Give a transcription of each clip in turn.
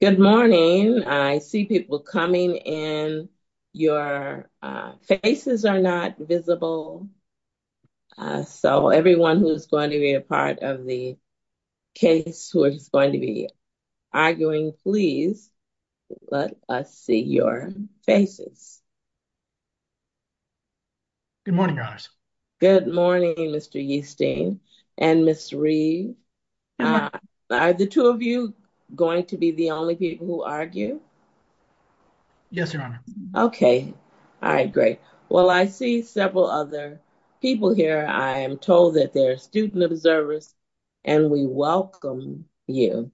Good morning. I see people coming in. Your faces are not visible. So everyone who's going to be a part of the case who is going to be arguing, please let us see your faces. Good morning, your honors. Good morning, Mr. Yeastine and Ms. Reed. Are the two of you going to be the only people who argue? Yes, your honor. Okay. All right, great. Well, I see several other people here. I am told that they're student observers and we welcome you.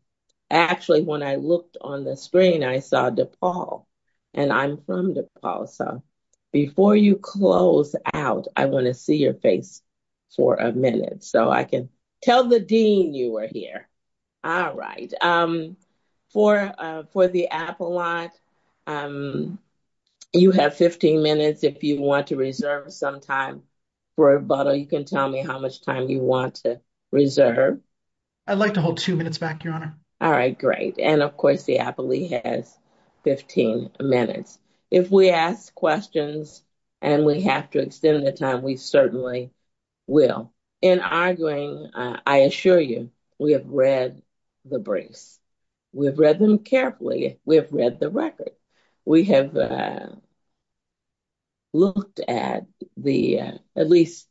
Actually, when I looked on the screen, I saw DePaul and I'm from DePaul. So before you close out, I want to see your face for a minute so I can tell the dean you were here. All right. For the Apple lot, you have 15 minutes if you want to reserve some time for rebuttal. You can tell me how much time you want to reserve. I'd like to hold two minutes back, your honor. All right, great. And of course, the Apple has 15 minutes. If we ask questions and we have to extend the time, we certainly will. In arguing, I assure you, we have read the briefs. We've read them carefully. We have read the record. At least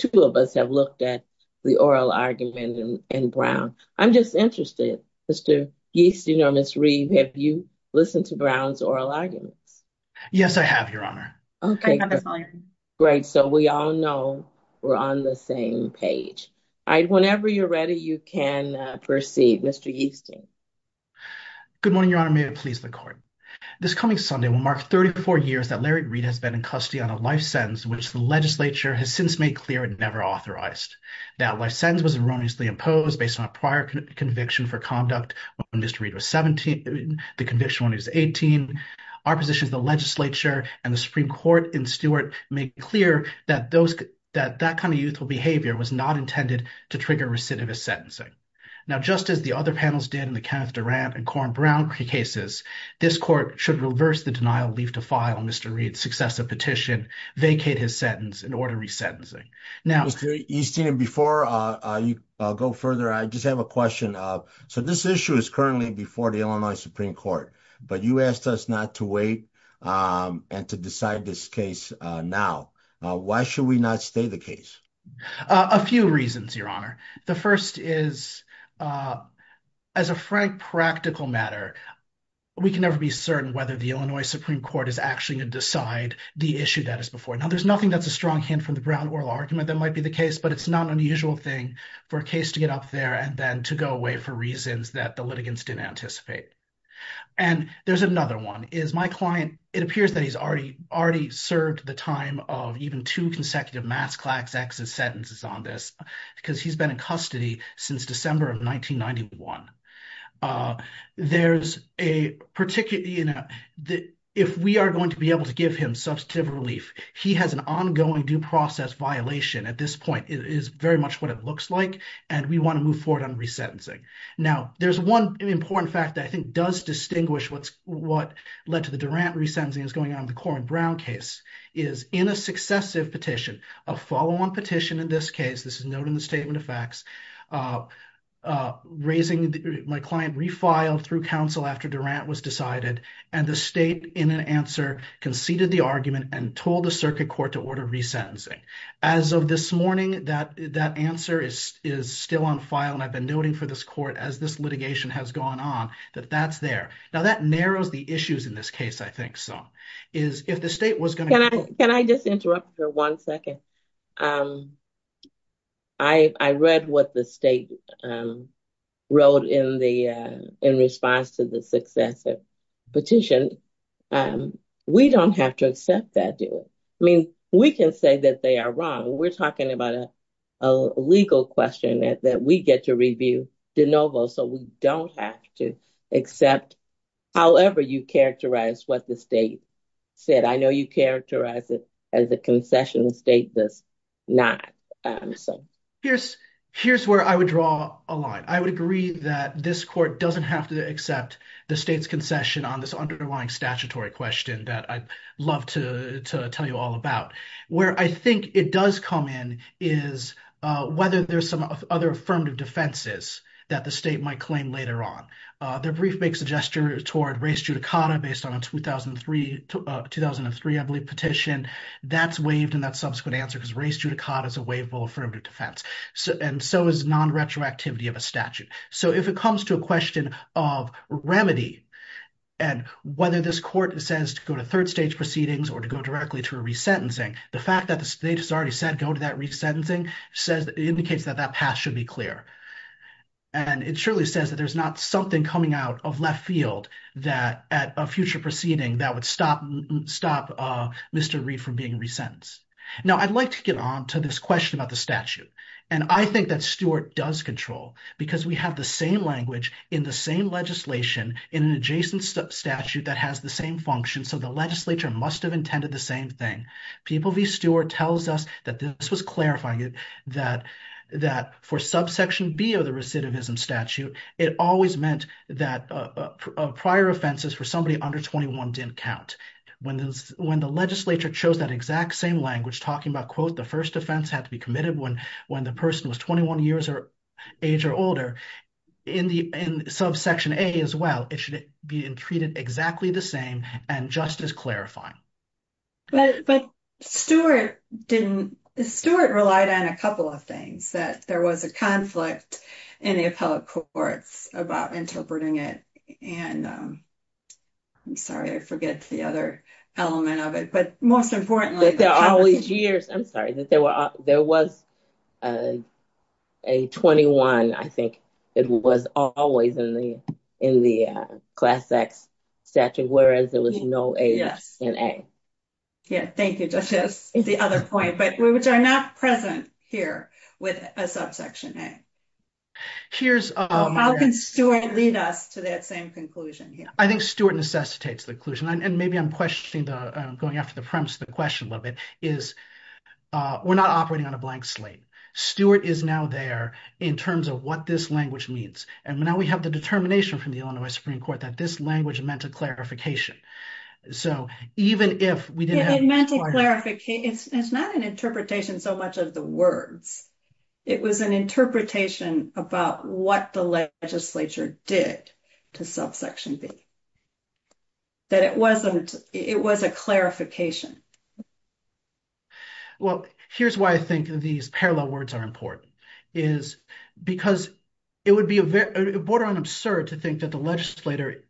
two of us have looked at the oral argument in Brown. I'm just interested, Mr. Yeastine or Ms. Reed, have you listened to Brown's oral arguments? Yes, I have, your honor. Okay, great. So we all know we're on the same page. Whenever you're ready, you can proceed, Mr. Yeastine. Good morning, your honor. May it please the court. This coming Sunday will mark 34 years that Larry Reed has been in custody on a life sentence, which the legislature has since made clear and never authorized. That life sentence was erroneously imposed based on a prior conviction for conduct when Mr. Reed was 17, the conviction when he was 18. Our position as the legislature and the Supreme Court in Stewart make it clear that that kind of youthful behavior was not intended to trigger recidivist sentencing. Now, just as the other panels did in the Kenneth Durant and Coren Brown cases, this court should reverse the denial, leave to file Mr. Reed's successive petition, vacate his sentence, and order resentencing. Mr. Yeastine, before you go further, I just have a question. So this issue is currently before the Illinois Supreme Court, but you asked us not to wait and to decide this case now. Why should we not stay the case? A few reasons, your honor. The first is, as a frank practical matter, we can never be certain whether the Illinois Supreme Court is actually going to decide the issue that is before it. Now, there's nothing that's a strong hint from the Brown oral argument that might be the case, but it's not an unusual thing for a case to get up there and then to go away for reasons that the litigants didn't anticipate. And there's another one, is my client, it appears that he's already served the time of even two consecutive mass Klaxexus sentences on this because he's been in custody since December of 1991. There's a particular, you know, if we are going to be able to give him substantive relief, he has an ongoing due process violation at this point. It is very much what it looks like, and we want to move forward on resentencing. Now, there's one important fact that I think does distinguish what led to the Durant resentencing that's going on in the Corwin-Brown case, is in a successive petition, a follow-on petition in this case, this is noted in the statement of facts, raising my client refiled through counsel after Durant was decided, and the state, in an answer, conceded the argument and told the circuit court to order resentencing. As of this morning, that answer is still on file, and I've been noting for this court, as this litigation has gone on, that that's there. Now, that narrows the issues in this case, I think, some, is if the state was going to... We're talking about a legal question that we get to review de novo, so we don't have to accept however you characterize what the state said. I know you characterize it as a concession state does not. Here's where I would draw a line. I would agree that this court doesn't have to accept the state's concession on this underlying statutory question that I'd love to tell you all about. Where I think it does come in is whether there's some other affirmative defenses that the state might claim later on. The brief makes a gesture toward res judicata based on a 2003, I believe, petition. That's waived in that subsequent answer because res judicata is a waivable affirmative defense, and so is non-retroactivity of a statute. So if it comes to a question of remedy and whether this court says to go to third stage proceedings or to go directly to a resentencing, the fact that the state has already said go to that resentencing indicates that that path should be clear. And it surely says that there's not something coming out of left field that at a future proceeding that would stop Mr. Reid from being resentenced. Now, I'd like to get on to this question about the statute. And I think that Stewart does control because we have the same language in the same legislation in an adjacent statute that has the same function. So the legislature must have intended the same thing. People v. Stewart tells us that this was clarifying it, that for subsection B of the recidivism statute, it always meant that prior offenses for somebody under 21 didn't count. When the legislature chose that exact same language talking about, quote, the first offense had to be committed when the person was 21 years of age or older, in subsection A as well, it should be treated exactly the same and just as clarifying. But Stewart relied on a couple of things, that there was a conflict in the appellate courts about interpreting it. And I'm sorry, I forget the other element of it. But most importantly, I'm sorry, that there was a 21, I think, it was always in the class X statute, whereas there was no A in A. Yeah, thank you, Justice. That's the other point, but we are not present here with a subsection A. How can Stewart lead us to that same conclusion? I think Stewart necessitates the conclusion. And maybe I'm going after the premise of the question a little bit, is we're not operating on a blank slate. Stewart is now there in terms of what this language means. And now we have the determination from the Illinois Supreme Court that this language meant a clarification. It meant a clarification. It's not an interpretation so much of the words. It was an interpretation about what the legislature did to subsection B, that it was a clarification. Well, here's why I think these parallel words are important, is because it would be border on absurd to think that the legislator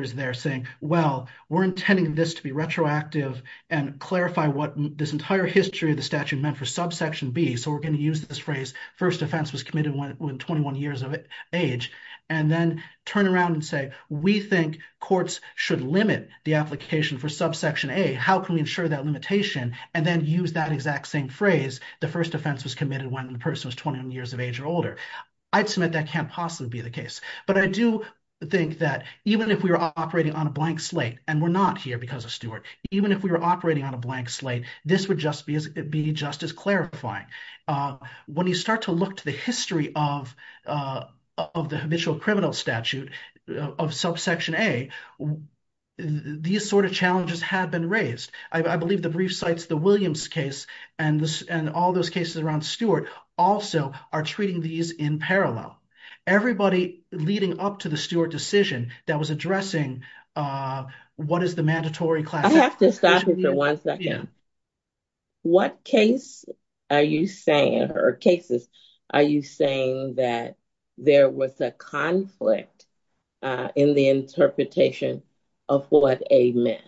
is there saying, well, we're intending this to be retroactive and clarify what this entire history of the statute meant for subsection B. So we're going to use this phrase, first offense was committed when 21 years of age, and then turn around and say, we think courts should limit the application for subsection A. How can we ensure that limitation? And then use that exact same phrase, the first offense was committed when the person was 21 years of age or older. I'd submit that can't possibly be the case. But I do think that even if we were operating on a blank slate, and we're not here because of Stewart, even if we were operating on a blank slate, this would just be just as clarifying. When you start to look to the history of the initial criminal statute of subsection A, these sort of challenges have been raised. I believe the brief cites the Williams case, and all those cases around Stewart also are treating these in parallel. Everybody leading up to the Stewart decision that was addressing what is the mandatory class. I have to stop you for one second. What case are you saying, or cases, are you saying that there was a conflict in the interpretation of what A meant?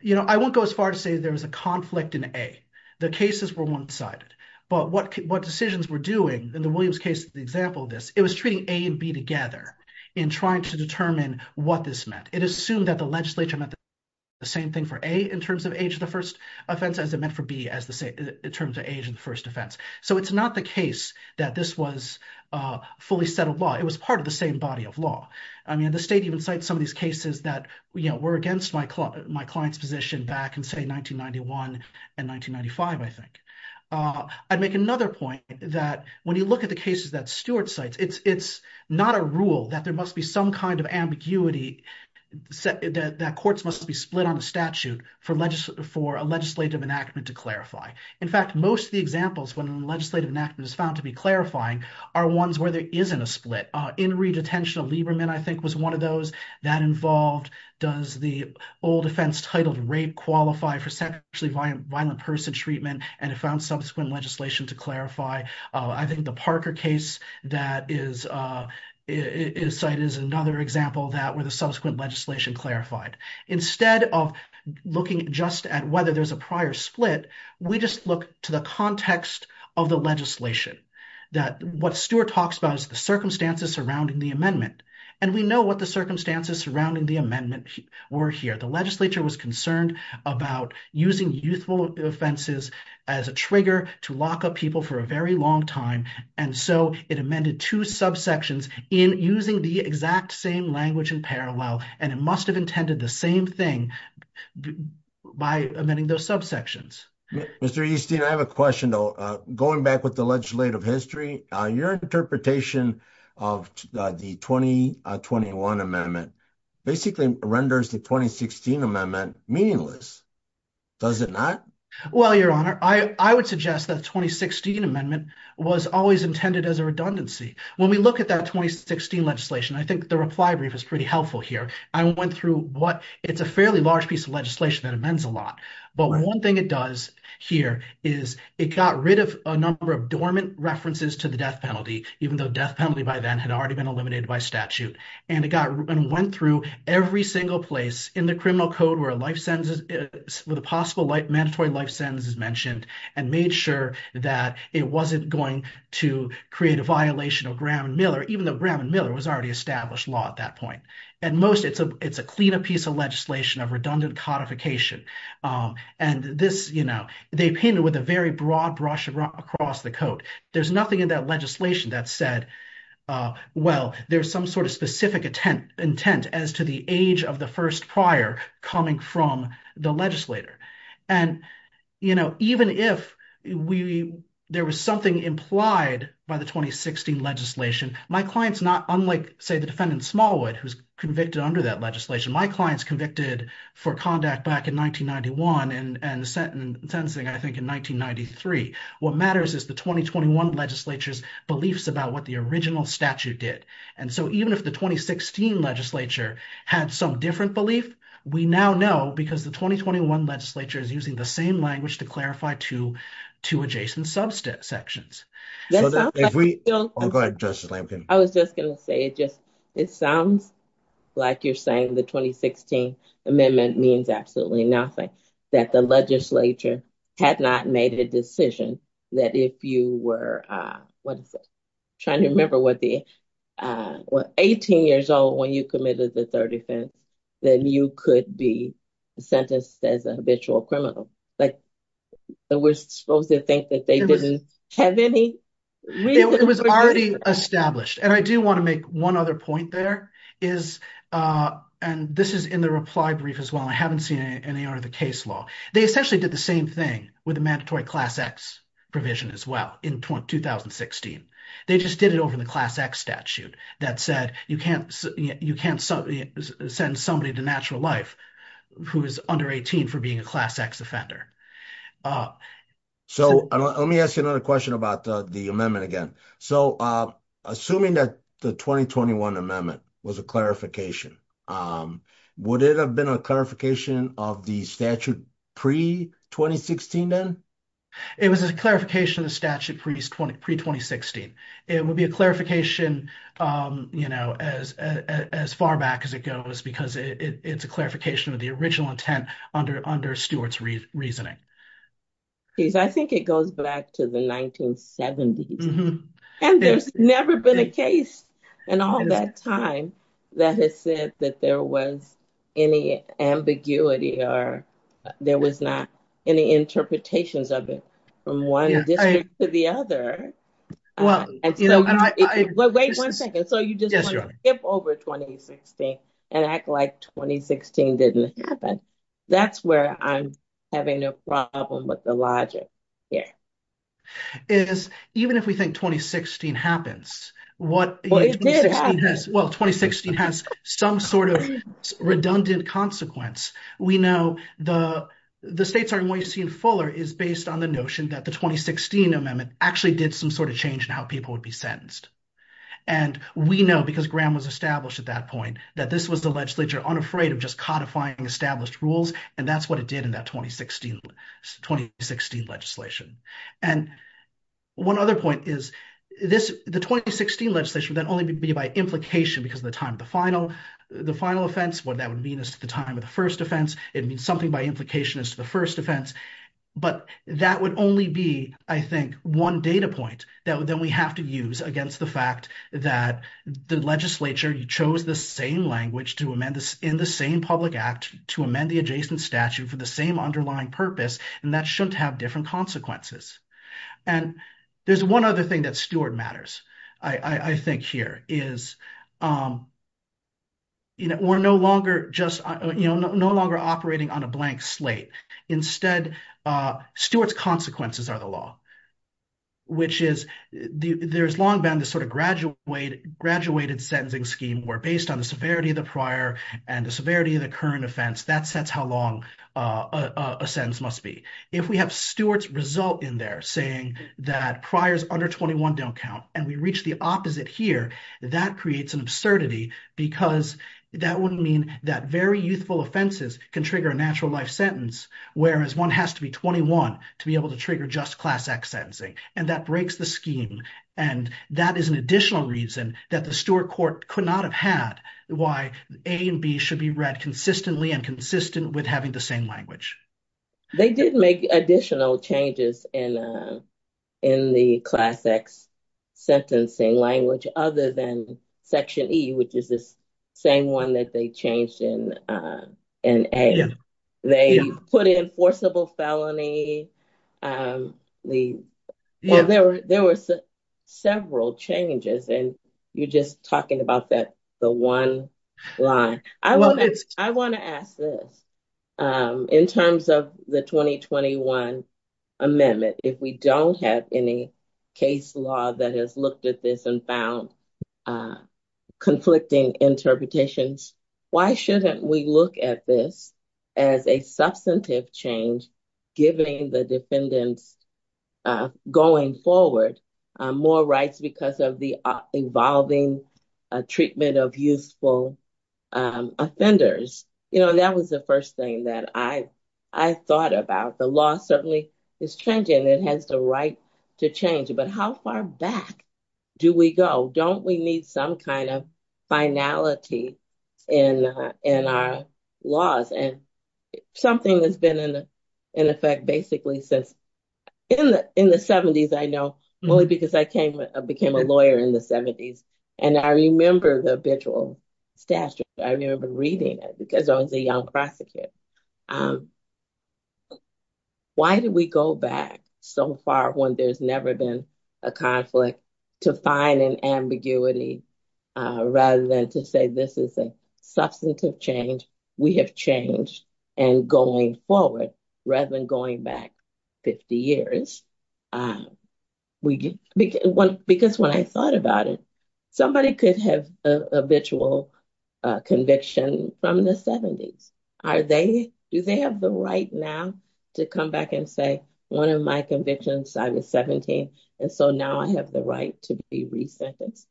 You know, I won't go as far to say there was a conflict in A. The cases were one-sided. But what decisions were doing in the Williams case, the example of this, it was treating A and B together in trying to determine what this meant. It assumed that the legislature meant the same thing for A in terms of age of the first offense as it meant for B in terms of age of the first offense. So it's not the case that this was fully settled law. It was part of the same body of law. I mean, the state even cites some of these cases that were against my client's position back in, say, 1991 and 1995, I think. I'd make another point that when you look at the cases that Stewart cites, it's not a rule that there must be some kind of ambiguity that courts must be split on a statute for a legislative enactment to clarify. In fact, most of the examples when a legislative enactment is found to be clarifying are ones where there isn't a split. In re-detention of Lieberman, I think, was one of those that involved, does the old offense titled rape qualify for sexually violent person treatment, and it found subsequent legislation to clarify. I think the Parker case that is cited is another example that where the subsequent legislation clarified. Instead of looking just at whether there's a prior split, we just look to the context of the legislation. That what Stewart talks about is the circumstances surrounding the amendment, and we know what the circumstances surrounding the amendment were here. The legislature was concerned about using youthful offenses as a trigger to lock up people for a very long time, and so it amended two subsections in using the exact same language in parallel, and it must have intended the same thing by amending those subsections. Mr. Easton, I have a question though. Going back with the legislative history, your interpretation of the 2021 amendment basically renders the 2016 amendment meaningless. Does it not? Well, your honor, I would suggest that 2016 amendment was always intended as a redundancy. When we look at that 2016 legislation, I think the reply brief is pretty helpful here. It's a fairly large piece of legislation that amends a lot, but one thing it does here is it got rid of a number of dormant references to the death penalty, even though death penalty by then had already been eliminated by statute. And it went through every single place in the criminal code where the possible mandatory life sentence is mentioned and made sure that it wasn't going to create a violation of Graham and Miller, even though Graham and Miller was already established law at that point. At most, it's a cleaner piece of legislation of redundant codification. And this, you know, they painted with a very broad brush across the code. There's nothing in that legislation that said, well, there's some sort of specific intent as to the age of the first prior coming from the legislator. And, you know, even if there was something implied by the 2016 legislation, my clients not unlike, say, the defendant Smallwood, who's convicted under that legislation, my clients convicted for conduct back in 1991 and sentencing, I think, in 1993. What matters is the 2021 legislature's beliefs about what the original statute did. And so even if the 2016 legislature had some different belief, we now know because the 2021 legislature is using the same language to clarify two adjacent subsections. I was just going to say it just, it sounds like you're saying the 2016 amendment means absolutely nothing that the legislature had not made a decision that if you were trying to remember what the 18 years old when you committed the third offense, then you could be sentenced as a habitual criminal. We're supposed to think that they didn't have any reason. It was already established. And I do want to make one other point there is, and this is in the reply brief as well, I haven't seen any under the case law. They essentially did the same thing with a mandatory Class X provision as well in 2016. They just did it over the Class X statute that said you can't send somebody to natural life who is under 18 for being a Class X offender. So, let me ask you another question about the amendment again. So, assuming that the 2021 amendment was a clarification, would it have been a clarification of the statute pre-2016 then? It was a clarification of the statute pre-2016. It would be a clarification, you know, as far back as it goes because it's a clarification of the original intent under Stewart's reasoning. I think it goes back to the 1970s. And there's never been a case in all that time that has said that there was any ambiguity or there was not any interpretations of it from one district to the other. Wait one second. So, you just want to skip over 2016 and act like 2016 didn't happen. That's where I'm having a problem with the logic here. Even if we think 2016 happens, well, 2016 has some sort of redundant consequence. We know the states are more you see in Fuller is based on the notion that the 2016 amendment actually did some sort of change in how people would be sentenced. And we know, because Graham was established at that point, that this was the legislature unafraid of just codifying established rules. And that's what it did in that 2016 legislation. And one other point is the 2016 legislation would then only be by implication because of the time of the final offense. What that would mean is the time of the first offense. It means something by implication as to the first offense. But that would only be, I think, one data point that we have to use against the fact that the legislature chose the same language in the same public act to amend the adjacent statute for the same underlying purpose. And that shouldn't have different consequences. And there's one other thing that Stewart matters, I think, here. We're no longer operating on a blank slate. Instead, Stewart's consequences are the law. Which is, there's long been this sort of graduated sentencing scheme where, based on the severity of the prior and the severity of the current offense, that sets how long a sentence must be. If we have Stewart's result in there saying that priors under 21 don't count and we reach the opposite here, that creates an absurdity because that would mean that very youthful offenses can trigger a natural life sentence. Whereas one has to be 21 to be able to trigger just class X sentencing. And that breaks the scheme. And that is an additional reason that the Stewart court could not have had why A and B should be read consistently and consistent with having the same language. They did make additional changes in the class X sentencing language other than section E, which is this same one that they changed in A. They put in forcible felony. There were several changes. And you're just talking about the one line. I want to ask this. In terms of the 2021 amendment, if we don't have any case law that has looked at this and found conflicting interpretations, why shouldn't we look at this as a substantive change, giving the defendants going forward more rights because of the evolving treatment of youthful offenders? That was the first thing that I thought about. The law certainly is changing. It has the right to change. But how far back do we go? Don't we need some kind of finality in our laws? And something that's been in effect basically since in the 70s, I know, only because I became a lawyer in the 70s. And I remember the habitual statute. I remember reading it because I was a young prosecutor. Why do we go back so far when there's never been a conflict to find an ambiguity rather than to say this is a substantive change we have changed and going forward rather than going back 50 years? Because when I thought about it, somebody could have a habitual conviction from the 70s. Do they have the right now to come back and say, one of my convictions, I was 17, and so now I have the right to be re-sentenced?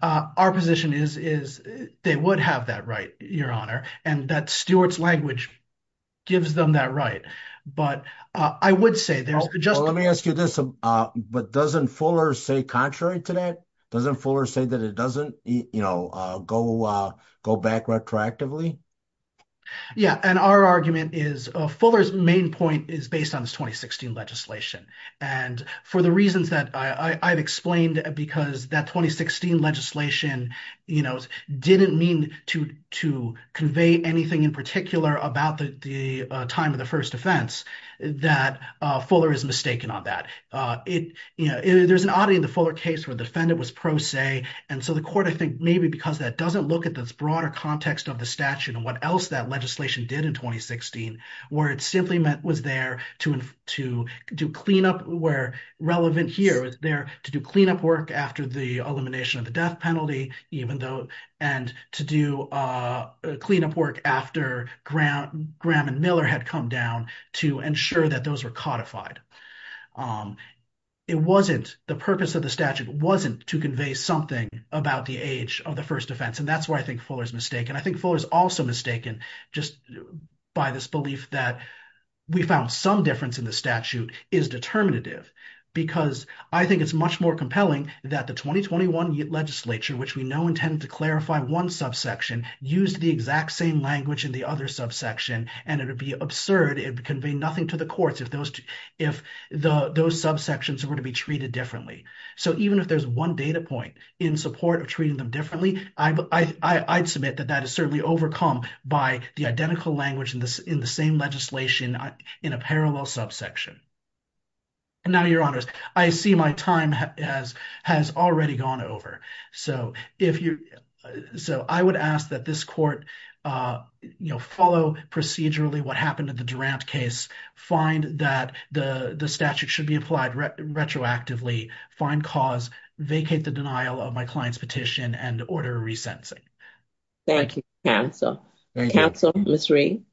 Our position is they would have that right, Your Honor, and that Stewart's language gives them that right. But I would say there's just— Well, let me ask you this. But doesn't Fuller say contrary to that? Doesn't Fuller say that it doesn't go back retroactively? Yeah, and our argument is Fuller's main point is based on this 2016 legislation. And for the reasons that I've explained, because that 2016 legislation didn't mean to convey anything in particular about the time of the first offense, that Fuller is mistaken on that. There's an oddity in the Fuller case where the defendant was pro se. And so the court, I think, maybe because that doesn't look at this broader context of the statute and what else that legislation did in 2016, where it simply was there to do cleanup where relevant here, to ensure that those were codified. It wasn't—the purpose of the statute wasn't to convey something about the age of the first offense. And that's where I think Fuller's mistaken. I think Fuller's also mistaken just by this belief that we found some difference in the statute is determinative. Because I think it's much more compelling that the 2021 legislature, which we know intended to clarify one subsection, used the exact same language in the other subsection, and it would be absurd. It would convey nothing to the courts if those subsections were to be treated differently. So even if there's one data point in support of treating them differently, I'd submit that that is certainly overcome by the identical language in the same legislation in a parallel subsection. And now, Your Honors, I see my time has already gone over. So if you—so I would ask that this court, you know, follow procedurally what happened in the Durant case, find that the statute should be applied retroactively, find cause, vacate the denial of my client's petition, and order a resentencing. Thank you, counsel. Counsel, Ms. Reed?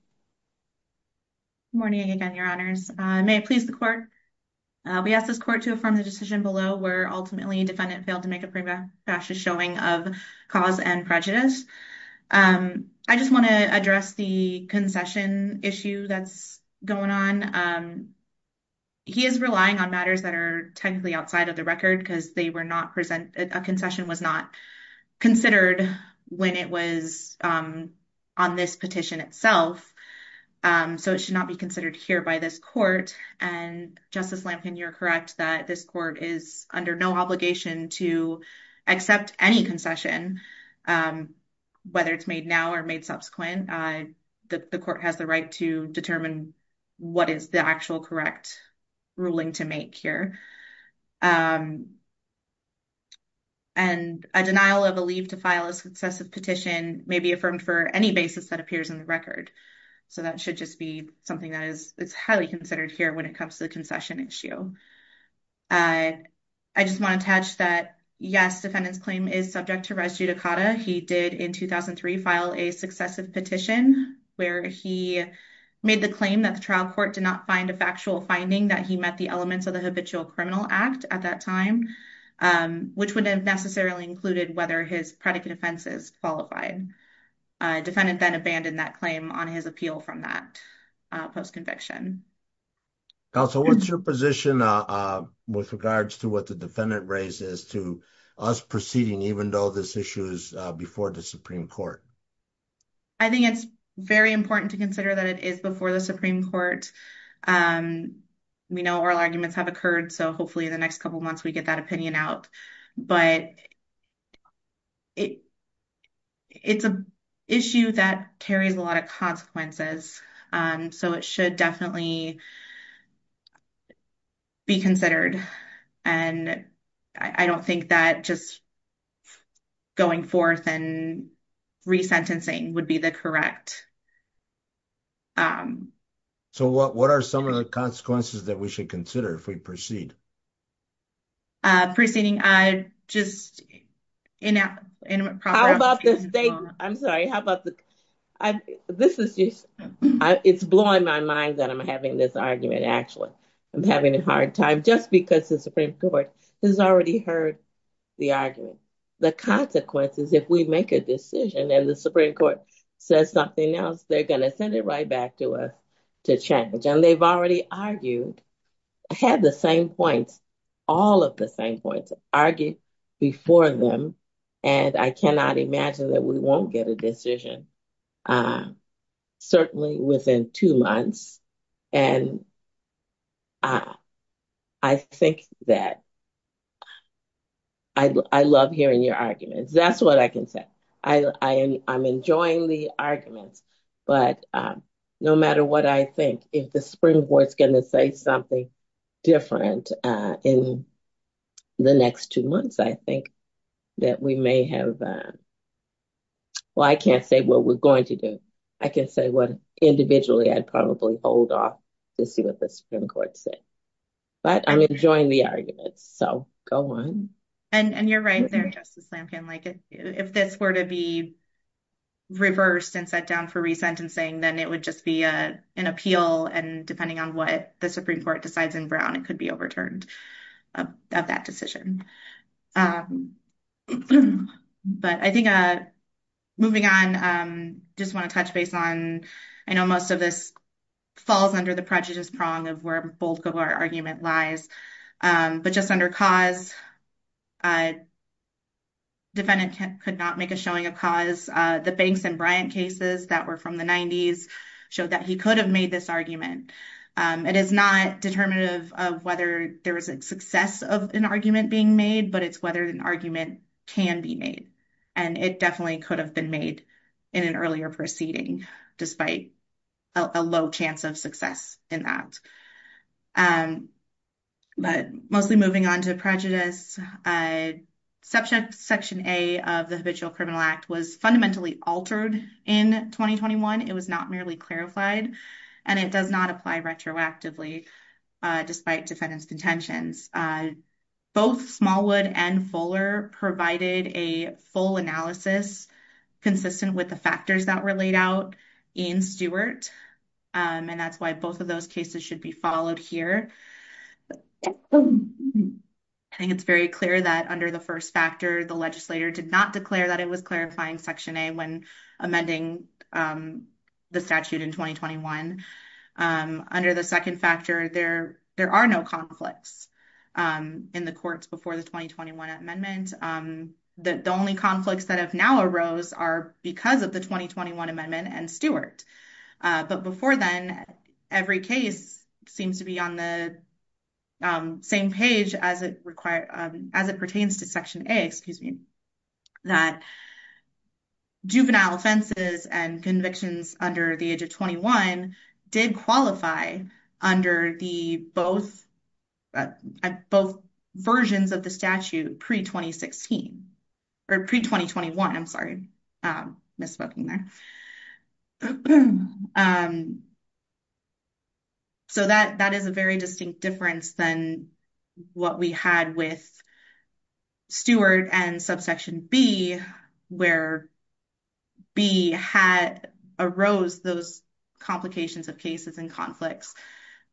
Good morning again, Your Honors. May it please the court, we ask this court to affirm the decision below where ultimately defendant failed to make a pre-bashous showing of cause and prejudice. I just want to address the concession issue that's going on. He is relying on matters that are technically outside of the record because they were not present—a concession was not considered when it was on this petition itself. So it should not be considered here by this court. And Justice Lampkin, you're correct that this court is under no obligation to accept any concession, whether it's made now or made subsequent. The court has the right to determine what is the actual correct ruling to make here. And a denial of a leave to file a successive petition may be affirmed for any basis that appears in the record. So that should just be something that is highly considered here when it comes to the concession issue. I just want to attach that, yes, defendant's claim is subject to res judicata. He did, in 2003, file a successive petition where he made the claim that the trial court did not find a factual finding that he met the elements of the Habitual Criminal Act at that time, which would have necessarily included whether his predicate offense is qualified. Defendant then abandoned that claim on his appeal from that post-conviction. Counsel, what's your position with regards to what the defendant raised as to us proceeding, even though this issue is before the Supreme Court? I think it's very important to consider that it is before the Supreme Court. We know oral arguments have occurred, so hopefully in the next couple of months we get that opinion out. But it's an issue that carries a lot of consequences. So it should definitely be considered. And I don't think that just going forth and resentencing would be the correct... So what are some of the consequences that we should consider if we proceed? Proceeding, I just... How about the state... I'm sorry, how about the... This is just... It's blowing my mind that I'm having this argument, actually. I'm having a hard time just because the Supreme Court has already heard the argument. The consequences, if we make a decision and the Supreme Court says something else, they're going to send it right back to us to change. And they've already argued, had the same points, all of the same points, argued before them. And I cannot imagine that we won't get a decision, certainly within two months. And I think that... I love hearing your arguments. That's what I can say. I'm enjoying the arguments. But no matter what I think, if the Supreme Court is going to say something different in the next two months, I think that we may have... Well, I can't say what we're going to do. I can say what individually I'd probably hold off to see what the Supreme Court said. But I'm enjoying the arguments. So go on. And you're right there, Justice Lampkin. If this were to be reversed and set down for resentencing, then it would just be an appeal. And depending on what the Supreme Court decides in Brown, it could be overturned of that decision. But I think moving on, just want to touch base on, I know most of this falls under the prejudice prong of where both of our argument lies. But just under cause, defendant could not make a showing of cause. The Banks and Bryant cases that were from the 90s showed that he could have made this argument. It is not determinative of whether there was a success of an argument being made, but it's whether an argument can be made. And it definitely could have been made in an earlier proceeding, despite a low chance of success in that. But mostly moving on to prejudice, Section A of the Habitual Criminal Act was fundamentally altered in 2021. It was not merely clarified, and it does not apply retroactively, despite defendant's contentions. Both Smallwood and Fuller provided a full analysis consistent with the factors that were laid out in Stewart. And that's why both of those cases should be followed here. I think it's very clear that under the first factor, the legislator did not declare that it was clarifying Section A when amending the statute in 2021. Under the second factor, there are no conflicts in the courts before the 2021 amendment. The only conflicts that have now arose are because of the 2021 amendment and Stewart. But before then, every case seems to be on the same page as it pertains to Section A, that juvenile offenses and convictions under the age of 21 did qualify under both versions of the statute pre-2021. So that is a very distinct difference than what we had with Stewart and Subsection B, where B had arose those complications of cases and conflicts.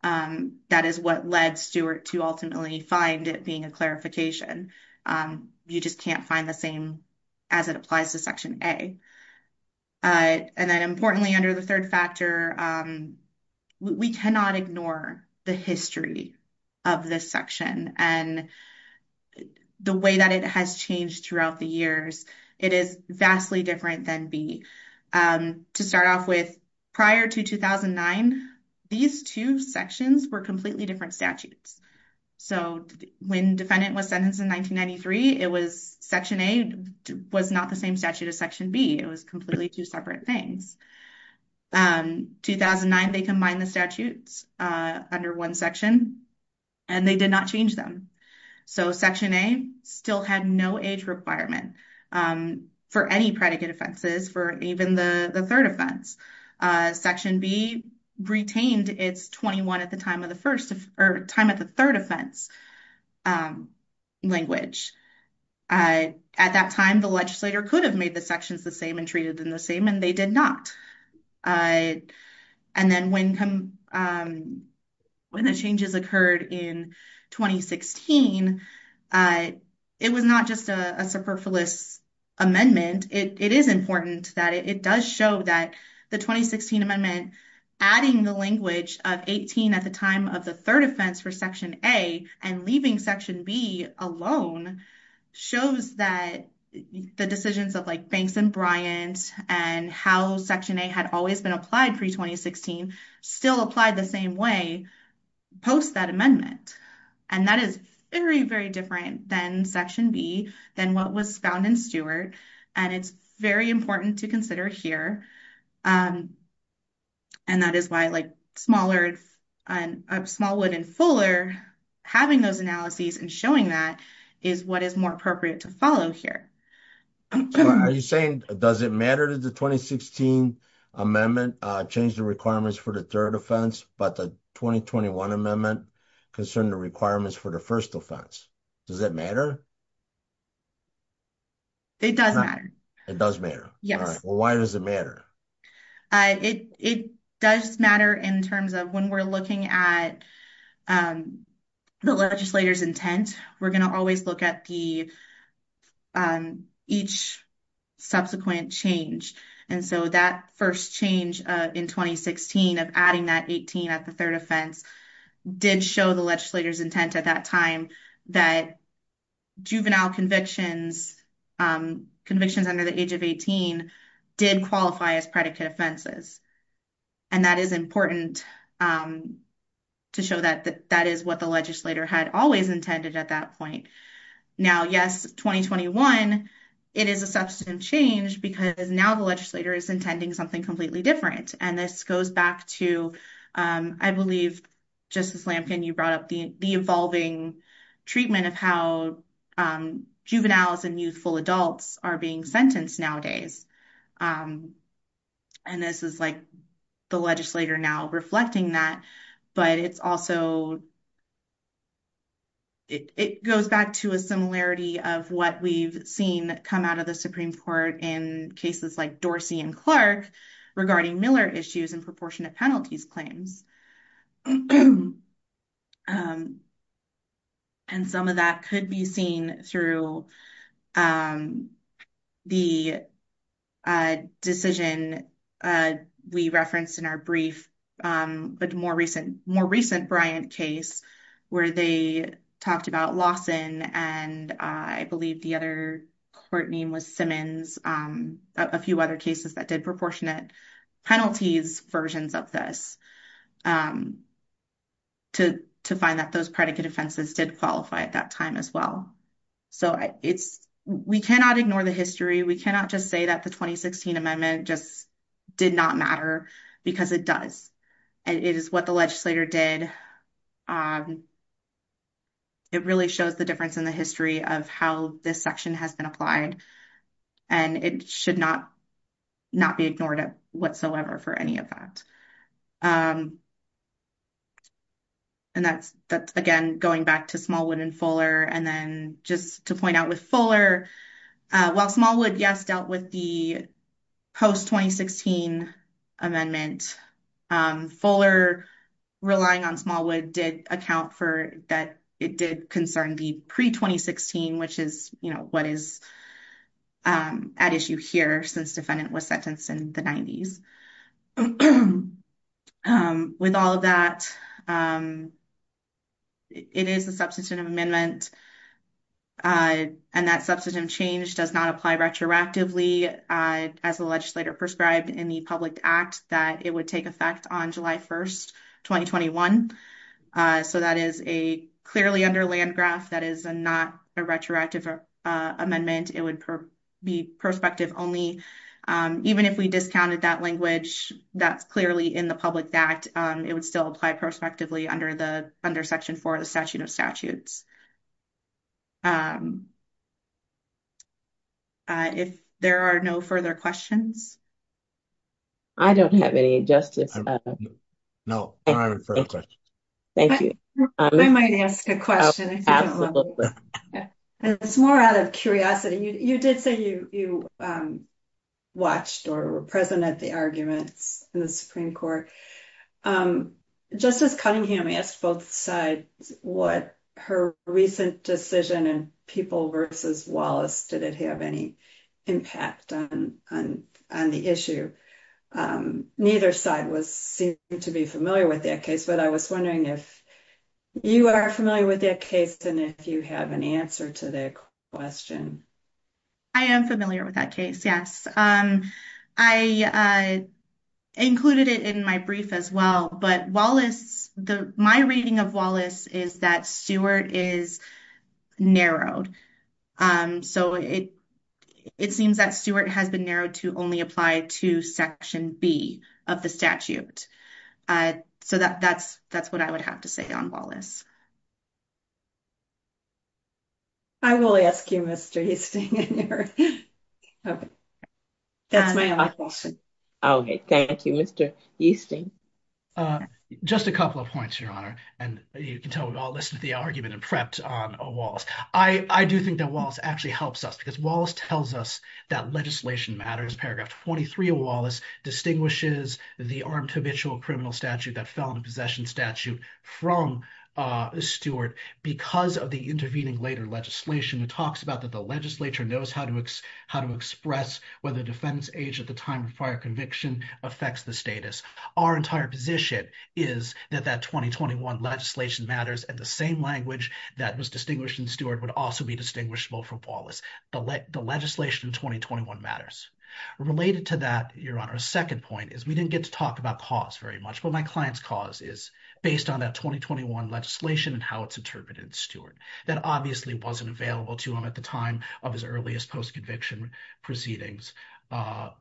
That is what led Stewart to ultimately find it being a clarification. You just can't find the same as it applies to Section A. Importantly, under the third factor, we cannot ignore the history of this section and the way that it has changed throughout the years. It is vastly different than B. To start off with, prior to 2009, these two sections were completely different statutes. When the defendant was sentenced in 1993, Section A was not the same statute as Section B. It was completely two separate things. In 2009, they combined the statutes under one section and they did not change them. Section A still had no age requirement for any predicate offenses, for even the third offense. Section B retained its 21 at the time of the third offense language. At that time, the legislator could have made the sections the same and treated them the same, and they did not. When the changes occurred in 2016, it was not just a superfluous amendment. It is important that it does show that the 2016 amendment adding the language of 18 at the time of the third offense for Section A and leaving Section B alone shows that the decisions of Banks and Bryant and how Section A had always been applied pre-2016 still applied the same way post that amendment. That is very, very different than Section B, than what was found in Stewart. It is very important to consider here. That is why Smallwood and Fuller having those analyses and showing that is what is more appropriate to follow here. Are you saying, does it matter that the 2016 amendment changed the requirements for the third offense, but the 2021 amendment concerned the requirements for the first offense? Does that matter? It does matter. It does matter. Why does it matter? It does matter in terms of when we are looking at the legislator's intent, we are going to always look at each subsequent change. That first change in 2016 of adding that 18 at the third offense did show the legislator's intent at that time that juvenile convictions, convictions under the age of 18 did qualify as predicate offenses. That is important to show that that is what the legislator had always intended at that point. Now, yes, 2021, it is a substantive change because now the legislator is intending something completely different. This goes back to, I believe, Justice Lampkin, you brought up the evolving treatment of how juveniles and youthful adults are being sentenced nowadays. This is the legislator now reflecting that, but it also goes back to a similarity of what we have seen come out of the Supreme Court in cases like Dorsey and Clark regarding Miller issues and proportionate penalties claims. Some of that could be seen through the decision we referenced in our brief, but more recent Bryant case where they talked about Lawson and I believe the other court name was Simmons, a few other cases that did proportionate penalties versions of this. To find that those predicate offenses did qualify at that time as well. We cannot ignore the history. We cannot just say that the 2016 amendment just did not matter because it does, and it is what the legislator did. It really shows the difference in the history of how this section has been applied, and it should not be ignored whatsoever for any of that. That's, again, going back to Smallwood and Fuller. Then just to point out with Fuller, while Smallwood, yes, dealt with the post-2016 amendment, Fuller relying on Smallwood did account for that it did concern the pre-2016, which is what is at issue here since defendant was sentenced in the 90s. With all of that, it is a substantive amendment, and that substantive change does not apply retroactively as the legislator prescribed in the public act that it would take effect on July 1st, 2021. That is clearly under Landgraf. That is not a retroactive amendment. It would be prospective only. Even if we discounted that language that's clearly in the public act, it would still apply prospectively under Section 4 of the Statute of Statutes. If there are no further questions. I don't have any, Justice. No, I don't have any further questions. Thank you. I might ask a question if you don't mind. It's more out of curiosity. You did say you watched or were present at the arguments in the Supreme Court. Justice Cunningham asked both sides what her recent decision in People v. Wallace, did it have any impact on the issue? Neither side seemed to be familiar with that case, but I was wondering if you are familiar with that case and if you have an answer to that question. I am familiar with that case, yes. I included it in my brief as well, but my reading of Wallace is that Stewart is narrowed. It seems that Stewart has been narrowed to only apply to Section B of the statute. That's what I would have to say on Wallace. I will ask you, Mr. Hastings. That's my office. Okay, thank you, Mr. Hastings. Just a couple of points, Your Honor, and you can tell we've all listened to the argument and prepped on Wallace. I do think that Wallace actually helps us because Wallace tells us that legislation matters. This paragraph 23 of Wallace distinguishes the armed habitual criminal statute that fell into possession statute from Stewart because of the intervening later legislation. It talks about that the legislature knows how to express whether defense age at the time of prior conviction affects the status. Our entire position is that that 2021 legislation matters and the same language that was distinguished in Stewart would also be distinguishable for Wallace. The legislation in 2021 matters. Related to that, Your Honor, a second point is we didn't get to talk about cause very much, but my client's cause is based on that 2021 legislation and how it's interpreted in Stewart. That obviously wasn't available to him at the time of his earliest post-conviction proceedings.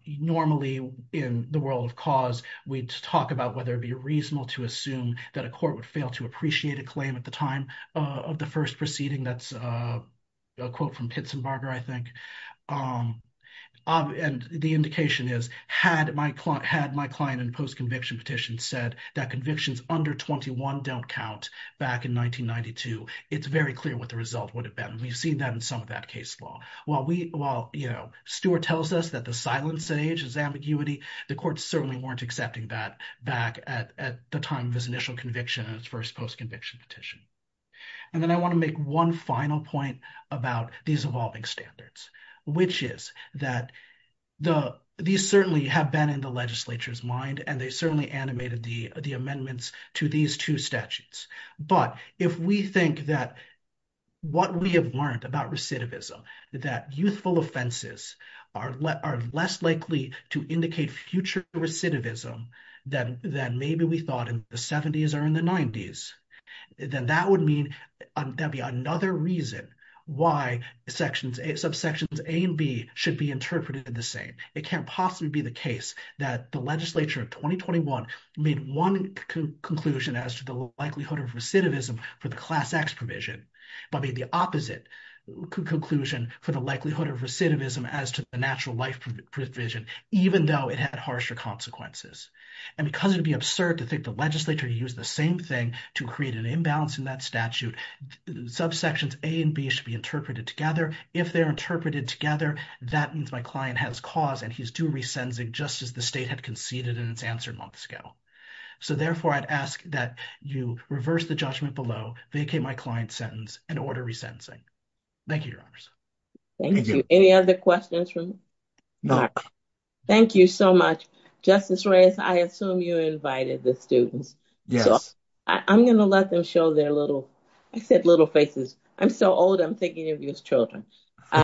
Normally, in the world of cause, we'd talk about whether it'd be reasonable to assume that a court would fail to appreciate a claim at the time of the first proceeding. That's a quote from Pitsenbarger, I think. And the indication is, had my client in post-conviction petition said that convictions under 21 don't count back in 1992, it's very clear what the result would have been. We've seen that in some of that case law. While, you know, Stewart tells us that the silence age is ambiguity, the courts certainly weren't accepting that back at the time of his initial conviction in his first post-conviction petition. And then I want to make one final point about these evolving standards, which is that these certainly have been in the legislature's mind, and they certainly animated the amendments to these two statutes. But if we think that what we have learned about recidivism, that youthful offenses are less likely to indicate future recidivism than maybe we thought in the 70s or in the 90s, then that would mean there'd be another reason why subsections A and B should be interpreted the same. It can't possibly be the case that the legislature of 2021 made one conclusion as to the likelihood of recidivism for the Class X provision, but made the opposite conclusion for the likelihood of recidivism as to the natural life provision, even though it had harsher consequences. And because it would be absurd to think the legislature used the same thing to create an imbalance in that statute, subsections A and B should be interpreted together. If they're interpreted together, that means my client has cause and he's due resentencing just as the state had conceded in its answer months ago. So therefore, I'd ask that you reverse the judgment below, vacate my client's sentence, and order resentencing. Thank you, Your Honors. Thank you. Any other questions? No. Thank you so much. Justice Reyes, I assume you invited the students. I'm going to let them show their little, I said little faces. I'm so old I'm thinking of you as children.